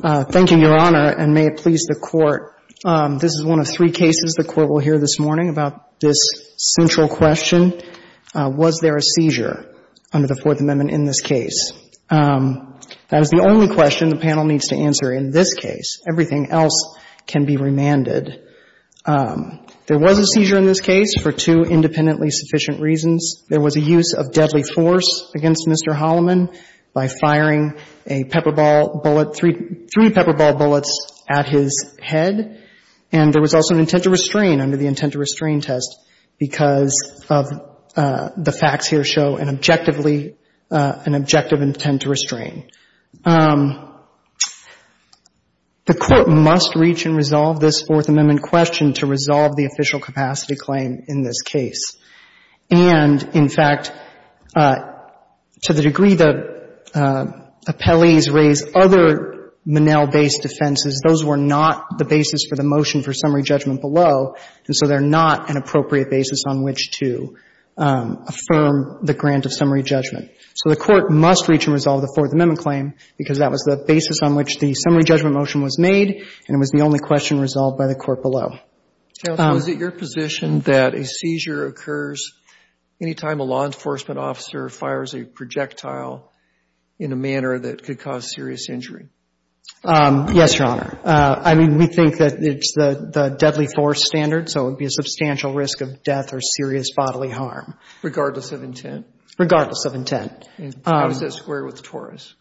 Thank you, Your Honor, and may it please the Court, this is one of three cases the Court will hear this morning about this central question. Was there a seizure under the Fourth Amendment in this case? That is the only question the panel needs to answer in this case. Everything else can be remanded. There was a seizure in this case for two independently sufficient reasons. There was a use of deadly force against Mr. Hollamon by firing a pepper ball bullet, three pepper ball bullets at his head. And there was also an intent to restrain under the intent to restrain test because of the facts here show an objectively, an objective intent to restrain. The Court must reach and resolve this Fourth Amendment question to resolve the official capacity claim in this case. And, in fact, to the degree the appellees raise other Monell-based offenses, those were not the basis for the motion for summary judgment below. And so they're not an appropriate basis on which to affirm the grant of summary judgment. So the Court must reach and resolve the Fourth Amendment claim because that was the basis on which the summary judgment motion was made, and it was the only question resolved by the Court below. So is it your position that a seizure occurs any time a law enforcement officer fires a projectile in a manner that could cause serious injury? Yes, Your Honor. I mean, we think that it's the deadly force standard, so it would be a substantial risk of death or serious bodily harm. Regardless of intent? Regardless of intent. How does that square with Torres?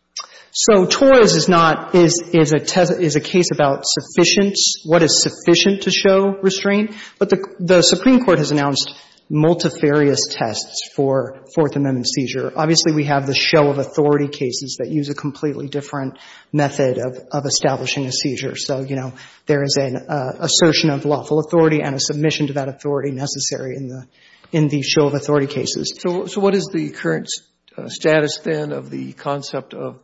So Torres is not — is a case about sufficiency, what is sufficient to show restraint. But the Supreme Court has announced multifarious tests for Fourth Amendment seizure. Obviously, we have the show-of-authority cases that use a completely different method of establishing a seizure. So, you know, there is an assertion of lawful authority and a submission to that authority necessary in the show-of-authority cases. So what is the current status, then, of the concept of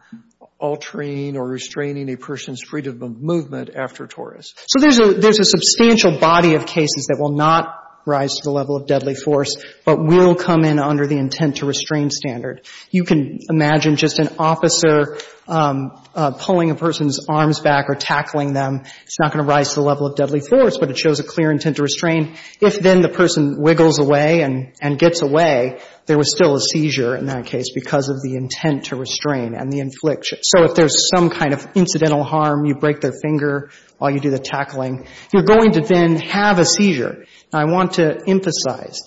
altering or restraining a person's freedom of movement after Torres? So there's a — there's a substantial body of cases that will not rise to the level of deadly force, but will come in under the intent-to-restrain standard. You can imagine just an officer pulling a person's arms back or tackling them. It's not going to rise to the level of deadly force, but it shows a clear intent to restrain. If then the person wiggles away and gets away, there was still a seizure in that case because of the intent to restrain and the infliction. So if there's some kind of incidental harm, you break their finger while you do the tackling, you're going to then have a seizure. Now, I want to emphasize,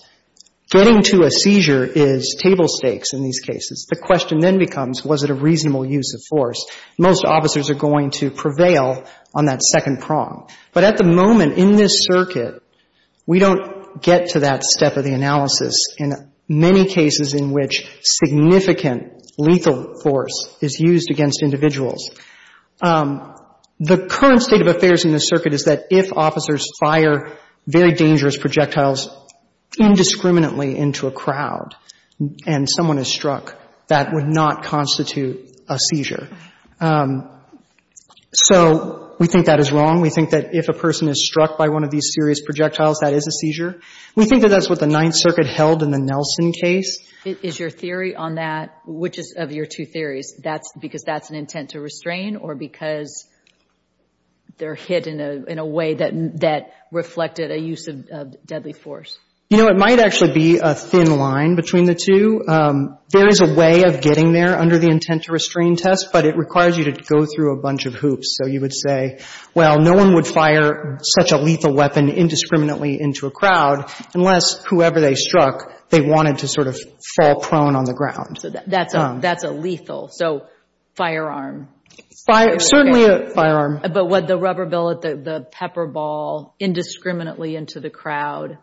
getting to a seizure is table stakes in these cases. The question then becomes, was it a reasonable use of force? Most officers are going to prevail on that second prong. But at the moment, in this circuit, we don't get to that step of the analysis in many cases in which significant lethal force is used against individuals. The current state of affairs in this circuit is that if officers fire very dangerous projectiles indiscriminately into a crowd and someone is struck, that would not constitute a seizure. So we think that is wrong. We think that if a person is struck by one of these serious projectiles, that is a seizure. We think that that's what the Ninth Circuit held in the Nelson case. Is your theory on that, which is of your two theories, because that's an intent to restrain or because they're hit in a way that reflected a use of deadly force? You know, it might actually be a thin line between the two. There is a way of getting there under the intent to restrain test, but it requires you to go through a bunch of hoops. So you would say, well, no one would fire such a lethal weapon indiscriminately into a crowd unless whoever they struck, they wanted to sort of fall prone on the ground. So that's a lethal. So firearm. Certainly a firearm. But with the rubber billet, the pepper ball indiscriminately into the crowd,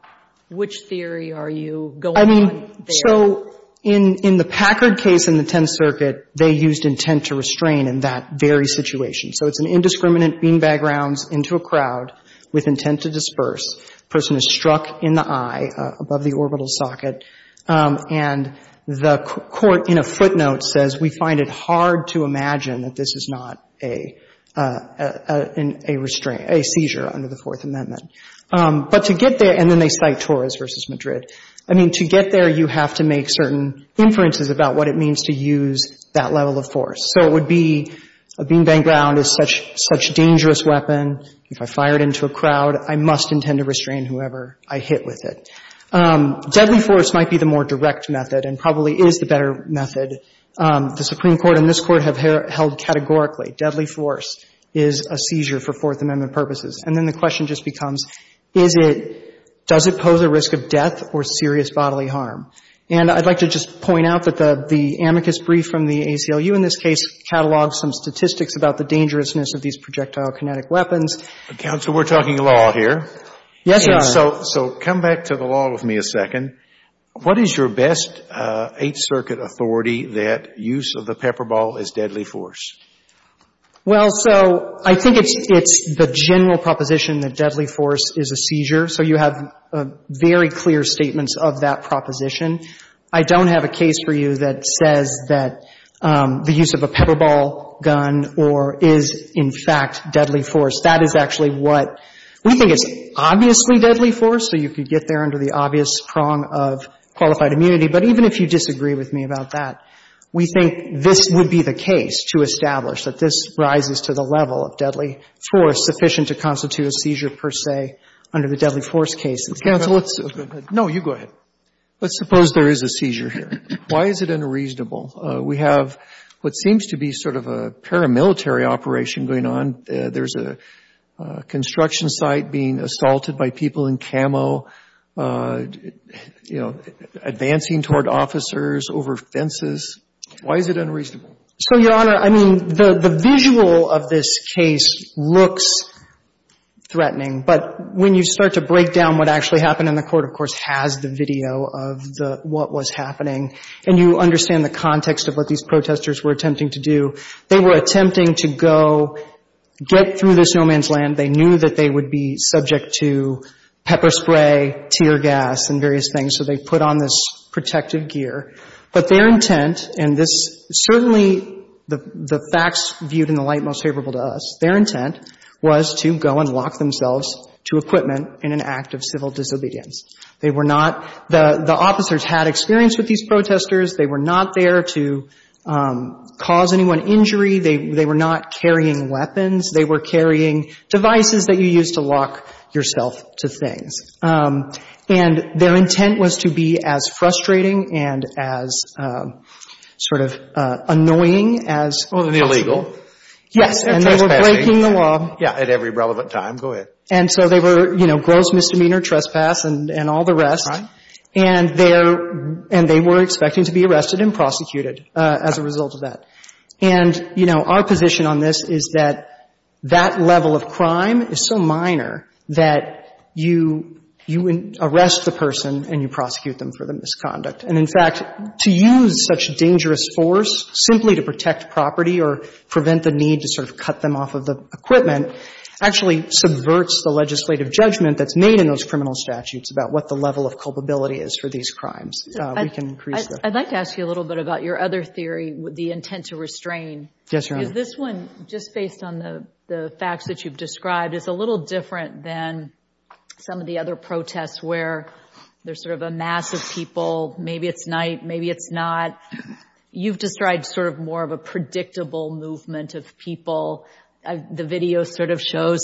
which theory are you going with there? I mean, so in the Packard case in the Tenth Circuit, they used intent to restrain in that very situation. So it's an indiscriminate beanbag rounds into a crowd with intent to disperse. Person is struck in the eye above the orbital socket. And the court in a footnote says, we find it hard to imagine that this is not a restrain or a seizure under the Fourth Amendment. But to get there, and then they cite Torres v. Madrid. I mean, to get there, you have to make certain inferences about what it means to use that level of force. So it would be a beanbag round is such a dangerous weapon. If I fire it into a crowd, I must intend to restrain whoever I hit with it. Deadly force might be the more direct method and probably is the better method. The Supreme Court and this Court have held categorically deadly force is a seizure for Fourth Amendment purposes. And then the question just becomes, is it, does it pose a risk of death or serious bodily harm? And I'd like to just point out that the amicus brief from the ACLU in this case catalogs some statistics about the dangerousness of these projectile kinetic weapons. Counsel, we're talking law here. Yes, Your Honor. So come back to the law with me a second. What is your best Eighth Circuit authority that use of the pepper ball is deadly force? Well, so I think it's the general proposition that deadly force is a seizure. So you have very clear statements of that proposition. I don't have a case for you that says that the use of a pepper ball gun or is in fact deadly force. That is actually what we think is obviously deadly force, so you could get there under the obvious prong of qualified immunity. But even if you disagree with me about that, we think this would be the case to establish that this rises to the level of deadly force sufficient to constitute a seizure per se under the deadly force case. Counsel, let's go ahead. No, you go ahead. Let's suppose there is a seizure here. Why is it unreasonable? We have what seems to be sort of a paramilitary operation going on. There's a construction site being assaulted by people in camo, you know, advancing toward officers over fences. Why is it unreasonable? So, Your Honor, I mean, the visual of this case looks threatening. But when you start to break down what actually happened, and the Court, of course, has the video of what was happening, and you understand the context of what these protesters were attempting to do. They were attempting to go get through this no man's land. They knew that they would be subject to pepper spray, tear gas, and various things, so they put on this protective gear. But their intent, and this certainly the facts viewed in the light most favorable to us, their intent was to go and lock themselves to equipment in an act of civil disobedience. They were not the officers had experience with these protesters. They were not there to cause anyone injury. They were not carrying weapons. They were carrying devices that you use to lock yourself to things. And their intent was to be as frustrating and as sort of annoying as possible. Well, the illegal. Yes, and they were breaking the law. Yeah, at every relevant time. Go ahead. And so they were, you know, gross misdemeanor, trespass, and all the rest. Right. And they were expecting to be arrested and prosecuted as a result of that. And, you know, our position on this is that that level of crime is so minor that you arrest the person and you prosecute them for the misconduct. And, in fact, to use such dangerous force simply to protect property or prevent the need to sort of cut them off of the equipment actually subverts the legislative judgment that's made in those criminal statutes about what the level of culpability is for these crimes. We can increase that. I'd like to ask you a little bit about your other theory, the intent to restrain. Yes, Your Honor. Because this one, just based on the facts that you've described, is a little different than some of the other protests where there's sort of a mass of people. Maybe it's night, maybe it's not. You've described sort of more of a predictable movement of people. The video sort of shows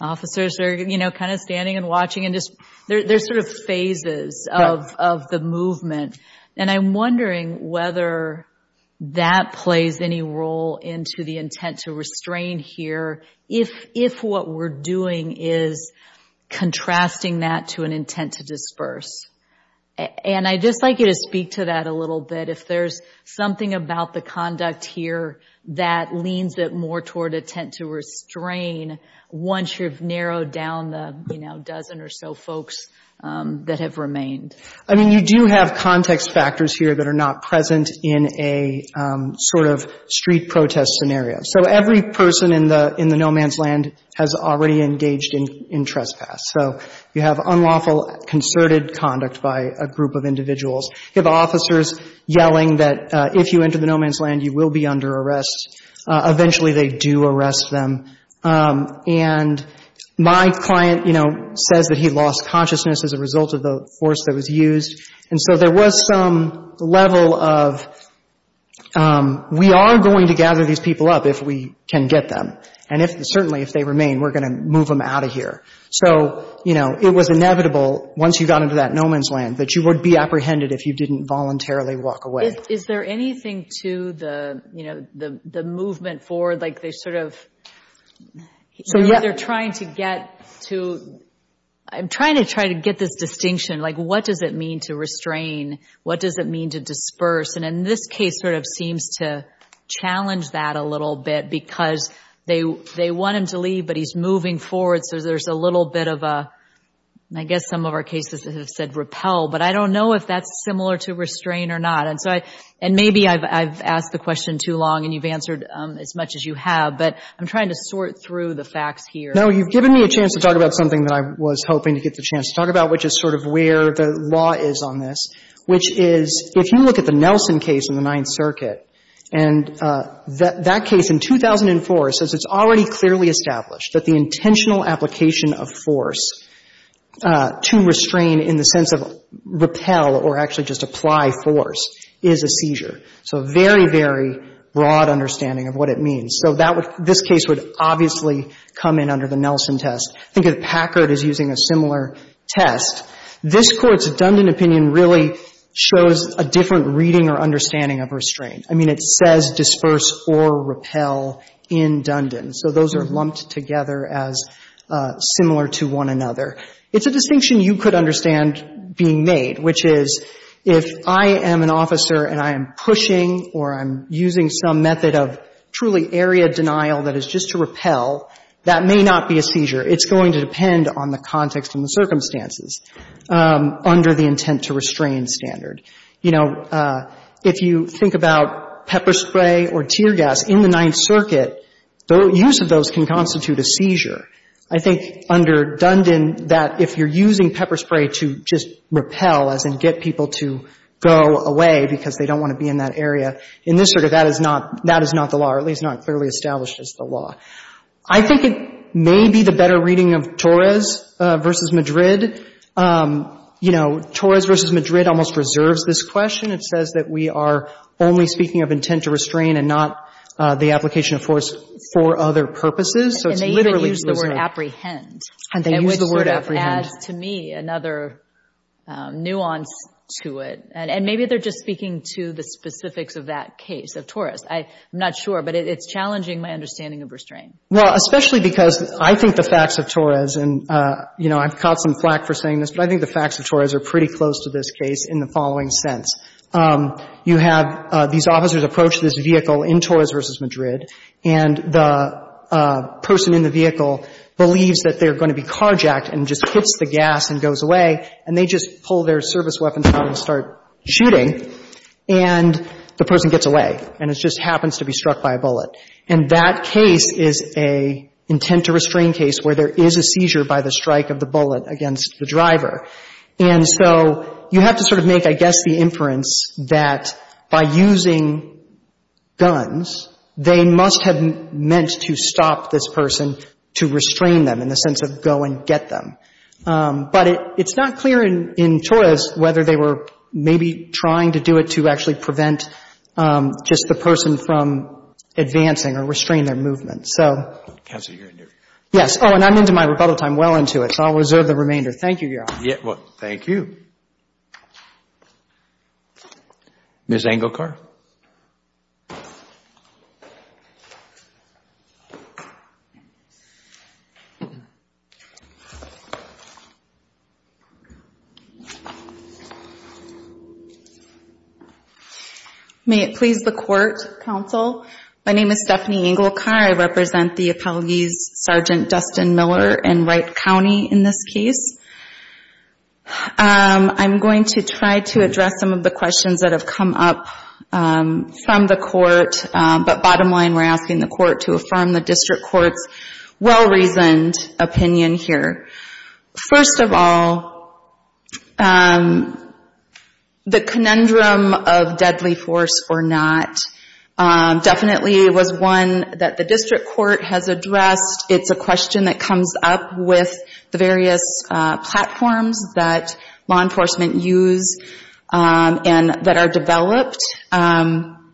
officers are, you know, kind of standing and watching and just there's sort of phases of the movement. And I'm wondering whether that plays any role into the intent to restrain here if what we're doing is contrasting that to an intent to disperse. And I'd just like you to speak to that a little bit, if there's something about the conduct here that leans it more toward intent to restrain once you've narrowed down the, you know, dozen or so folks that have remained. I mean, you do have context factors here that are not present in a sort of street protest scenario. So every person in the no man's land has already engaged in trespass. So you have unlawful, concerted conduct by a group of individuals. You have officers yelling that if you enter the no man's land, you will be under arrest. Eventually, they do arrest them. And my client, you know, says that he lost consciousness as a result of the force that was used. And so there was some level of, we are going to gather these people up if we can get them. And certainly if they remain, we're going to move them out of here. So, you know, it was inevitable once you got into that no man's land that you would be apprehended if you didn't voluntarily walk away. Is there anything to the, you know, the movement forward? Like they sort of, they're trying to get to, I'm trying to try to get this distinction. Like what does it mean to restrain? What does it mean to disperse? And in this case sort of seems to challenge that a little bit because they want him to leave, but he's moving forward. So there's a little bit of a, I guess some of our cases have said repel. But I don't know if that's similar to restrain or not. And so I, and maybe I've asked the question too long and you've answered as much as you have. But I'm trying to sort through the facts here. No, you've given me a chance to talk about something that I was hoping to get the chance to talk about, which is sort of where the law is on this, which is if you look at the Nelson case in the Ninth Circuit, and that case in 2004 says it's already clearly established that the intentional application of force to restrain in the sense of repel or actually just apply force is a seizure. So very, very broad understanding of what it means. So that would, this case would obviously come in under the Nelson test. I think if Packard is using a similar test, this Court's Dundon opinion really shows a different reading or understanding of restraint. I mean, it says disperse or repel in Dundon. So those are lumped together as similar to one another. It's a distinction you could understand being made, which is if I am an officer and I am pushing or I'm using some method of truly area denial that is just to repel, that may not be a seizure. It's going to depend on the context and the circumstances under the intent to restrain standard. You know, if you think about pepper spray or tear gas in the Ninth Circuit, the use of those can constitute a seizure. I think under Dundon that if you're using pepper spray to just repel, as in get people to go away because they don't want to be in that area, in this Circuit that is not the law, or at least not clearly established as the law. I think it may be the better reading of Torres v. Madrid. You know, Torres v. Madrid almost reserves this question. It says that we are only speaking of intent to restrain and not the application of force for other purposes. So it's literally reserved. And they even use the word apprehend. And they use the word apprehend. another nuance to it. And maybe they're just speaking to the specifics of that case, of Torres. I'm not sure, but it's challenging my understanding of restraint. Well, especially because I think the facts of Torres, and, you know, I've caught some flack for saying this, but I think the facts of Torres are pretty close to this case in the following sense. You have these officers approach this vehicle in Torres v. Madrid, and the person in the vehicle believes that they're going to be carjacked and just hits the gas and goes away. And they just pull their service weapons out and start shooting. And the person gets away. And it just happens to be struck by a bullet. And that case is an intent to restrain case where there is a seizure by the strike of the bullet against the driver. And so you have to sort of make, I guess, the inference that by using guns, they must have meant to stop this person to restrain them, in the sense of go and get them. But it's not clear in Torres whether they were maybe trying to do it to actually prevent just the person from advancing or restrain their movement. So yes. Oh, and I'm into my rebuttal time. I'm well into it. So I'll reserve the remainder. Thank you, Your Honor. Thank you. Ms. Engelkar? May it please the Court, Counsel. My name is Stephanie Engelkar. I represent the Appellees Sergeant Dustin Miller in Wright County in this case. I'm going to try to address some of the questions that have come up from the Court. But bottom line, we're asking the Court to affirm the District Court's well-reasoned opinion here. First of all, the conundrum of deadly force or not definitely was one that the District Court has addressed. It's a question that comes up with the various platforms that law enforcement use and that are developed. And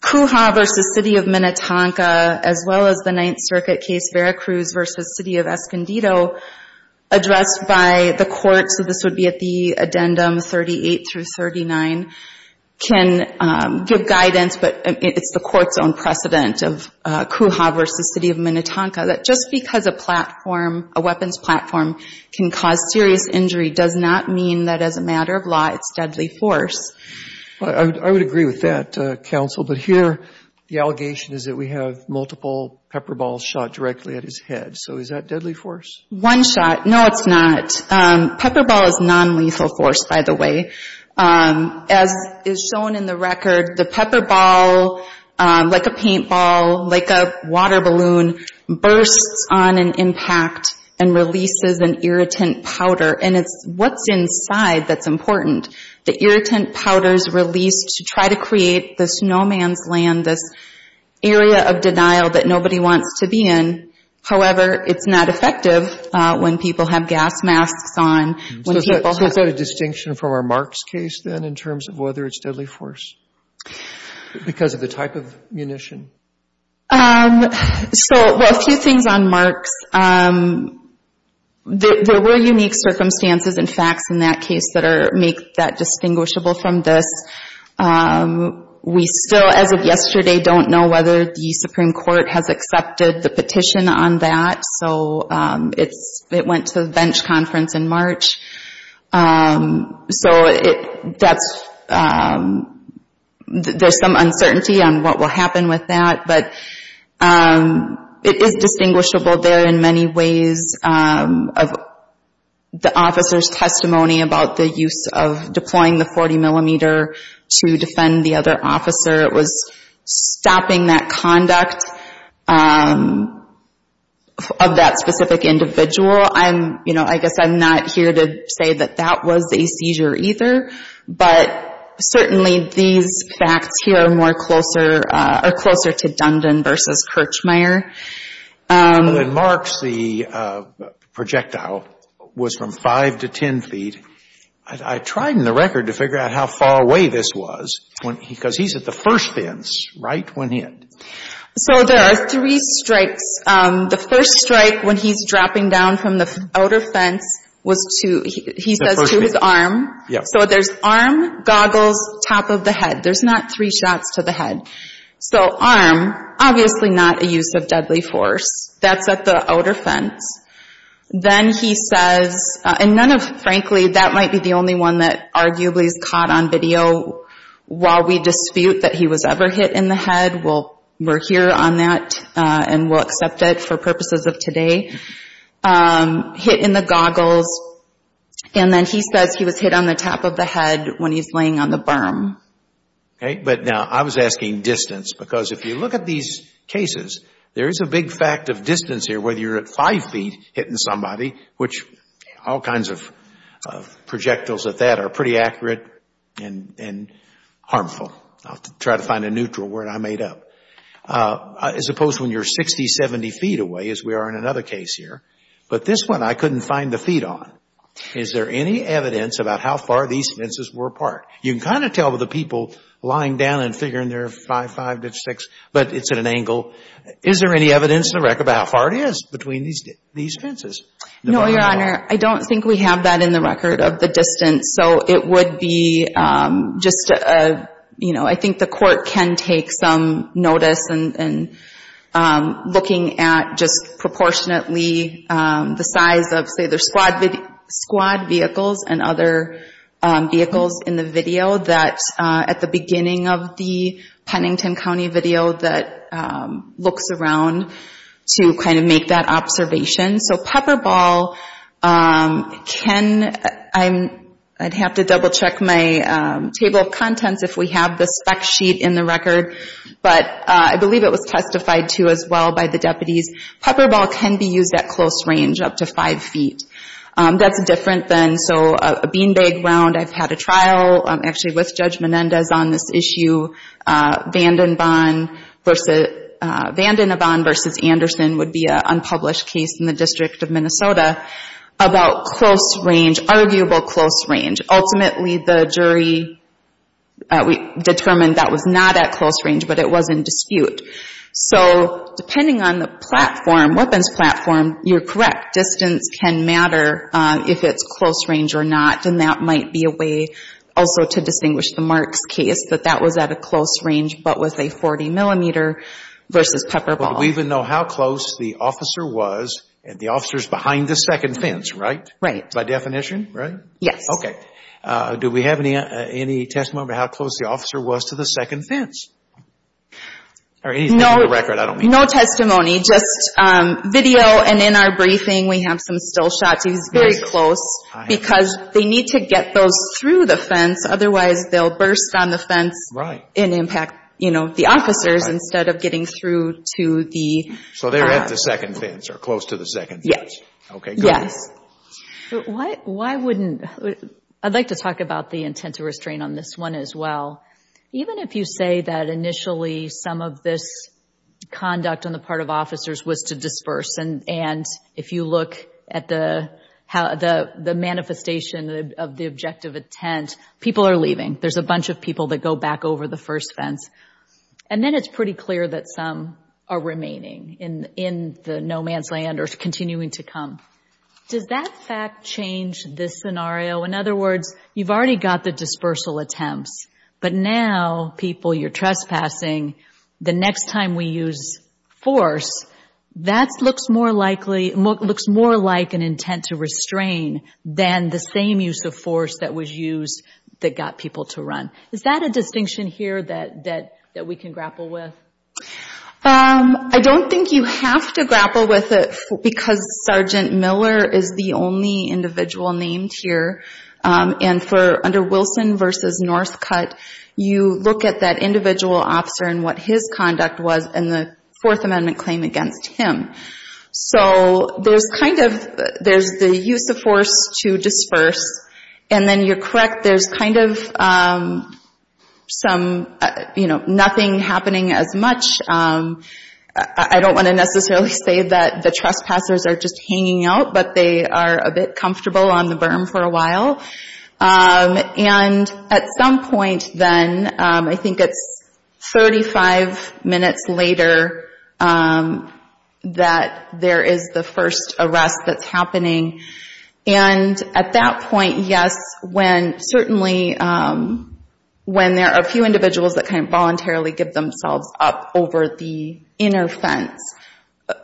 Cujah v. City of Minnetonka, as well as the Ninth Circuit case Veracruz v. City of Escondido, addressed by the Court. So this would be at the addendum 38 through 39, can give guidance. But it's the Court's own precedent of Cujah v. City of Minnetonka that just because a platform, a weapons platform, can cause serious injury does not mean that as a matter of law it's deadly force. I would agree with that, Counsel. But here the allegation is that we have multiple pepper balls shot directly at his head. So is that deadly force? One shot. No, it's not. Pepper ball is nonlethal force, by the way. As is shown in the record, the pepper ball, like a paintball, like a water balloon, bursts on an impact and releases an irritant powder. And it's what's inside that's important. The irritant powder is released to try to create the snowman's land, this area of denial that nobody wants to be in. However, it's not effective when people have gas masks on. So is that a distinction from our Marks case, then, in terms of whether it's deadly force because of the type of munition? So, well, a few things on Marks. There were unique circumstances and facts in that case that make that distinguishable from this. We still, as of yesterday, don't know whether the Supreme Court has accepted the petition on that. So it went to the bench conference in March. So there's some uncertainty on what will happen with that. But it is distinguishable there in many ways of the officer's testimony about the use of deploying the 40 millimeter to defend the other officer. It was stopping that conduct of that specific individual. I'm, you know, I guess I'm not here to say that that was a seizure either. But certainly these facts here are more closer to Dundon versus Kirchmeier. Well, in Marks, the projectile was from 5 to 10 feet. I tried in the record to figure out how far away this was because he's at the first fence right when hit. So there are three strikes. The first strike when he's dropping down from the outer fence was to, he says, to his arm. So there's arm, goggles, top of the head. There's not three shots to the head. So arm, obviously not a use of deadly force. That's at the outer fence. Then he says, and none of, frankly, that might be the only one that arguably is caught on video. While we dispute that he was ever hit in the head, we're here on that and we'll accept it for purposes of today. Hit in the goggles. And then he says he was hit on the top of the head when he's laying on the berm. Okay, but now I was asking distance. Because if you look at these cases, there is a big fact of distance here whether you're at 5 feet hitting somebody, which all kinds of projectiles at that are pretty accurate and harmful. I'll try to find a neutral word I made up. As opposed to when you're 60, 70 feet away as we are in another case here. But this one I couldn't find the feet on. Is there any evidence about how far these fences were apart? You can kind of tell with the people lying down and figuring they're 5'5", 5'6", but it's at an angle. Is there any evidence in the record about how far it is between these fences? No, Your Honor. I don't think we have that in the record of the distance. So it would be just a, you know, I think the court can take some notice in looking at just proportionately the size of, there's squad vehicles and other vehicles in the video that at the beginning of the Pennington County video that looks around to kind of make that observation. So pepper ball can, I'd have to double check my table of contents if we have the spec sheet in the record. But I believe it was testified to as well by the deputies. Pepper ball can be used at close range, up to 5 feet. That's different than, so a bean bag round, I've had a trial actually with Judge Menendez on this issue. Vandenbahn v. Anderson would be an unpublished case in the District of Minnesota about close range, arguable close range. Ultimately the jury determined that was not at close range, but it was in dispute. So depending on the platform, weapons platform, you're correct. Distance can matter if it's close range or not. And that might be a way also to distinguish the Marks case, that that was at a close range, but was a 40 millimeter versus pepper ball. But we even know how close the officer was, and the officer's behind the second fence, right? Right. By definition, right? Yes. Okay. Do we have any testimony about how close the officer was to the second fence? Or anything from the record, I don't mean. No testimony, just video. And in our briefing we have some still shots. He's very close because they need to get those through the fence, otherwise they'll burst on the fence. Right. And impact, you know, the officers instead of getting through to the- So they're at the second fence, or close to the second fence. Yes. Okay, good. Yes. Why wouldn't, I'd like to talk about the intent to restrain on this one as well. Even if you say that initially some of this conduct on the part of officers was to disperse, and if you look at the manifestation of the objective intent, people are leaving. There's a bunch of people that go back over the first fence. And then it's pretty clear that some are remaining in the no man's land or continuing to come. Does that fact change this scenario? In other words, you've already got the dispersal attempts. But now, people, you're trespassing. The next time we use force, that looks more likely, looks more like an intent to restrain than the same use of force that was used that got people to run. Is that a distinction here that we can grapple with? I don't think you have to grapple with it because Sergeant Miller is the only individual named here. And for under Wilson versus Northcutt, you look at that individual officer and what his conduct was in the Fourth Amendment claim against him. So there's kind of, there's the use of force to disperse. And then you're correct, there's kind of some, you know, nothing happening as much. I don't want to necessarily say that the trespassers are just hanging out, but they are a bit comfortable on the berm for a while. And at some point then, I think it's 35 minutes later that there is the first arrest that's happening. And at that point, yes, when certainly when there are a few individuals that kind of voluntarily give themselves up over the inner fence,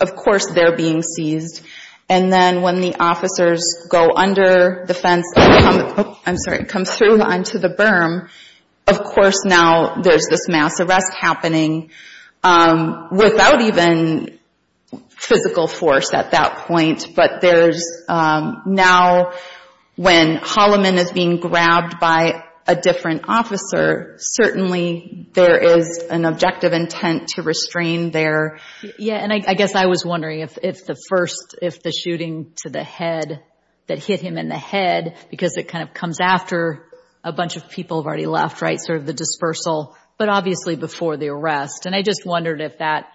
of course they're being seized. And then when the officers go under the fence, I'm sorry, come through onto the berm, of course now there's this mass arrest happening without even physical force at that point. But there's now when Holloman is being grabbed by a different officer, certainly there is an objective intent to restrain their. Yeah, and I guess I was wondering if the first, if the shooting to the head, that hit him in the head because it kind of comes after a bunch of people have already left, right, sort of the dispersal, but obviously before the arrest. And I just wondered if that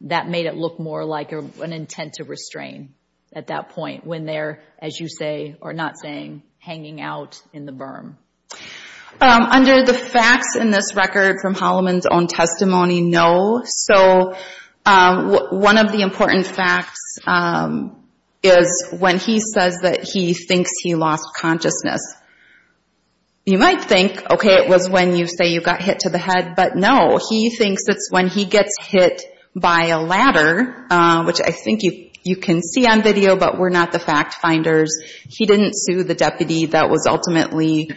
made it look more like an intent to restrain at that point when they're, as you say, or not saying, hanging out in the berm. Under the facts in this record from Holloman's own testimony, no. So one of the important facts is when he says that he thinks he lost consciousness. You might think, okay, it was when you say you got hit to the head, but no. He thinks it's when he gets hit by a ladder, which I think you can see on video, but we're not the fact finders. He didn't sue the deputy that was ultimately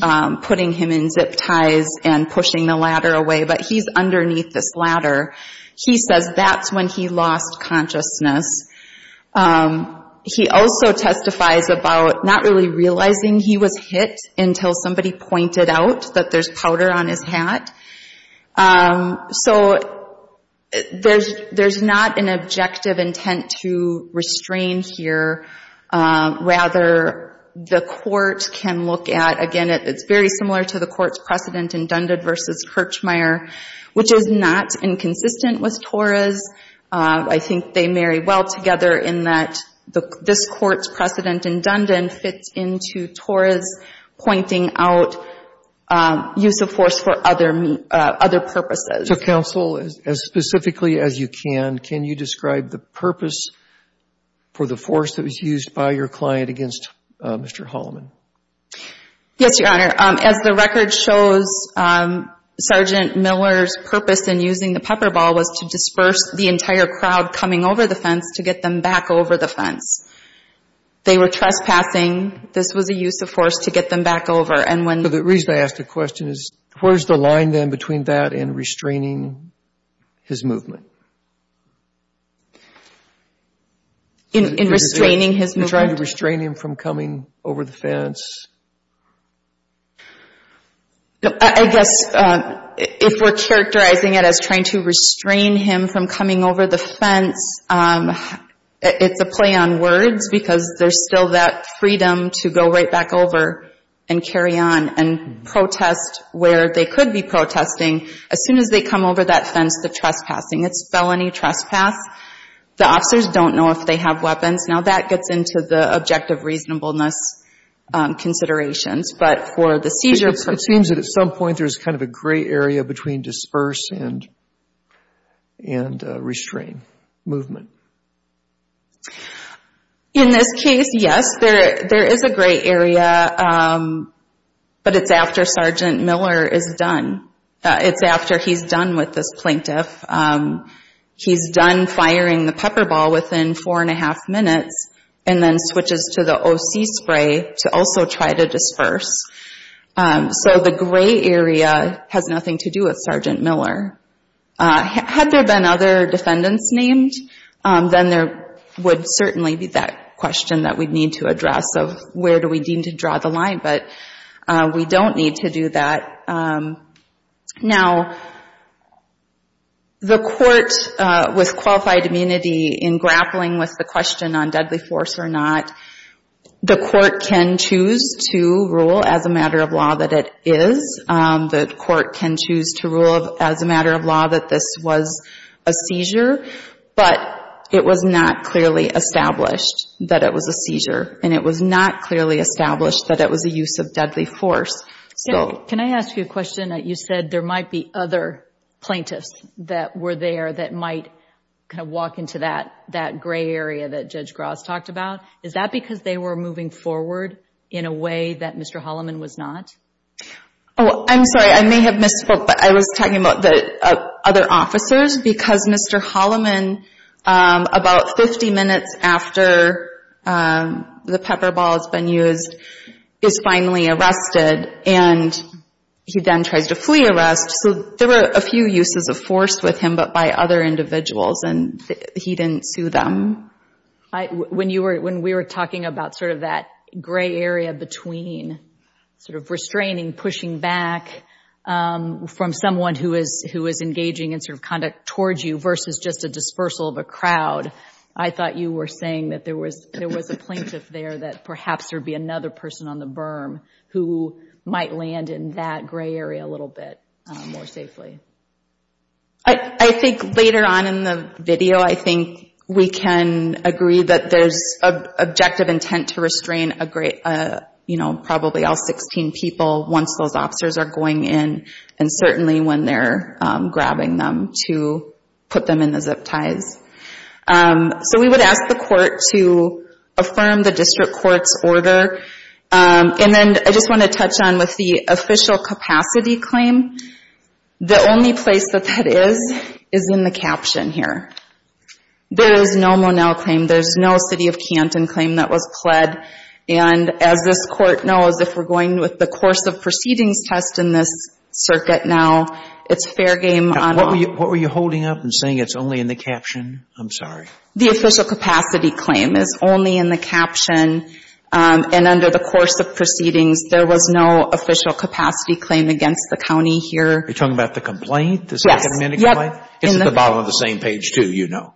putting him in zip ties and pushing the ladder away, but he's underneath this ladder. He says that's when he lost consciousness. He also testifies about not really realizing he was hit until somebody pointed out that there's powder on his hat. So there's not an objective intent to restrain here. Rather, the court can look at, again, it's very similar to the court's precedent in Dundon versus Kirchmeier, which is not inconsistent with Torah's. I think they marry well together in that this court's precedent in Dundon fits into Torah's pointing out use of force for other purposes. So, counsel, as specifically as you can, can you describe the purpose for the force that was used by your client against Mr. Holliman? Yes, Your Honor. As the record shows, Sergeant Miller's purpose in using the pepper ball was to disperse the entire crowd coming over the fence to get them back over the fence. They were trespassing. This was a use of force to get them back over. The reason I ask the question is where's the line then between that and restraining his movement? In restraining his movement? In trying to restrain him from coming over the fence. I guess if we're characterizing it as trying to restrain him from coming over the fence, it's a play on words because there's still that freedom to go right back over and carry on and protest where they could be protesting. As soon as they come over that fence, they're trespassing. It's felony trespass. The officers don't know if they have weapons. Now, that gets into the objective reasonableness considerations. But for the seizure— It seems that at some point there's kind of a gray area between disperse and restrain movement. In this case, yes, there is a gray area. But it's after Sergeant Miller is done. It's after he's done with this plaintiff. He's done firing the pepper ball within four and a half minutes and then switches to the OC spray to also try to disperse. So the gray area has nothing to do with Sergeant Miller. Had there been other defendants named, then there would certainly be that question that we'd need to address of where do we deem to draw the line. But we don't need to do that. Now, the court with qualified immunity in grappling with the question on deadly force or not, the court can choose to rule as a matter of law that it is. The court can choose to rule as a matter of law that this was a seizure. But it was not clearly established that it was a seizure. And it was not clearly established that it was a use of deadly force. Can I ask you a question? You said there might be other plaintiffs that were there that might kind of walk into that gray area that Judge Gross talked about. Is that because they were moving forward in a way that Mr. Holloman was not? Oh, I'm sorry. I may have misspoke, but I was talking about the other officers. Because Mr. Holloman, about 50 minutes after the pepper ball has been used, is finally arrested. And he then tries to flee arrest. So there were a few uses of force with him, but by other individuals. And he didn't sue them. When we were talking about sort of that gray area between sort of restraining, pushing back from someone who is engaging in sort of conduct towards you versus just a dispersal of a crowd, I thought you were saying that there was a plaintiff there that perhaps there would be another person on the berm who might land in that gray area a little bit more safely. I think later on in the video, I think we can agree that there's objective intent to restrain, you know, probably all 16 people once those officers are going in, and certainly when they're grabbing them to put them in the zip ties. So we would ask the court to affirm the district court's order. And then I just want to touch on with the official capacity claim. The only place that that is is in the caption here. There is no Monell claim. There's no City of Canton claim that was pled. And as this court knows, if we're going with the course of proceedings test in this circuit now, it's fair game on all. Now, what were you holding up and saying it's only in the caption? I'm sorry. The official capacity claim is only in the caption. And under the course of proceedings, there was no official capacity claim against the county here. Are you talking about the complaint, the second amendment complaint? It's at the bottom of the same page, too, you know,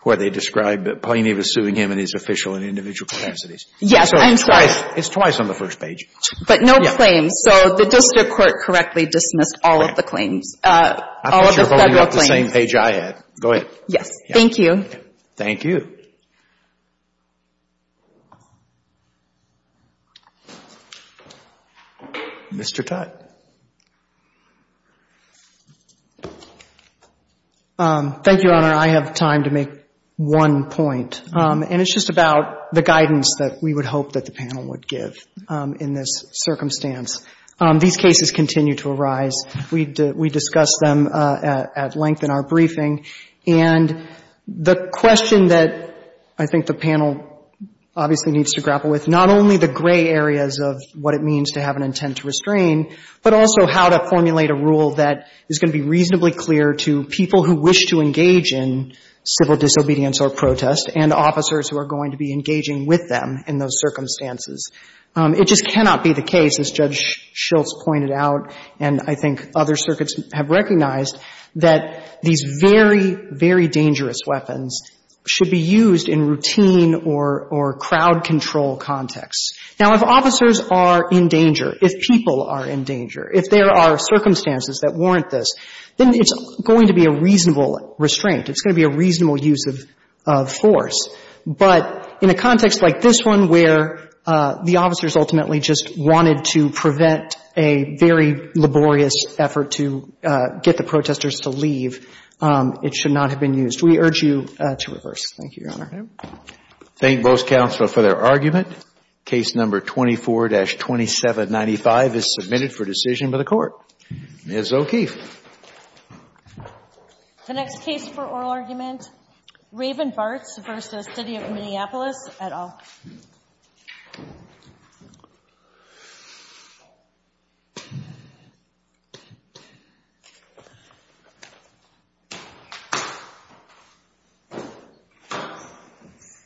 where they describe Plainy was suing him in his official and individual capacities. Yes, I'm sorry. It's twice on the first page. But no claims. So the district court correctly dismissed all of the claims, all of the federal claims. I thought you were holding up the same page I had. Go ahead. Yes, thank you. Thank you. Mr. Tutt. Thank you, Your Honor. I have time to make one point. And it's just about the guidance that we would hope that the panel would give in this circumstance. These cases continue to arise. We discuss them at length in our briefing. And the question that I think the panel obviously needs to grapple with, not only the gray but also how to formulate a rule that is going to be reasonably clear to people who wish to engage in civil disobedience or protest and officers who are going to be engaging with them in those circumstances. It just cannot be the case, as Judge Schultz pointed out, and I think other circuits have recognized, that these very, very dangerous weapons should be used in routine or crowd control contexts. Now, if officers are in danger, if people are in danger, if there are circumstances that warrant this, then it's going to be a reasonable restraint. It's going to be a reasonable use of force. But in a context like this one where the officers ultimately just wanted to prevent a very laborious effort to get the protesters to leave, it should not have been used. We urge you to reverse. Thank you, Your Honor. Thank both counsel for their argument. Case number 24-2795 is submitted for decision by the Court. Ms. O'Keefe. The next case for oral argument, Raven-Bartz v. City of Minneapolis et al. Raven-Bartz v. City of Minneapolis et al.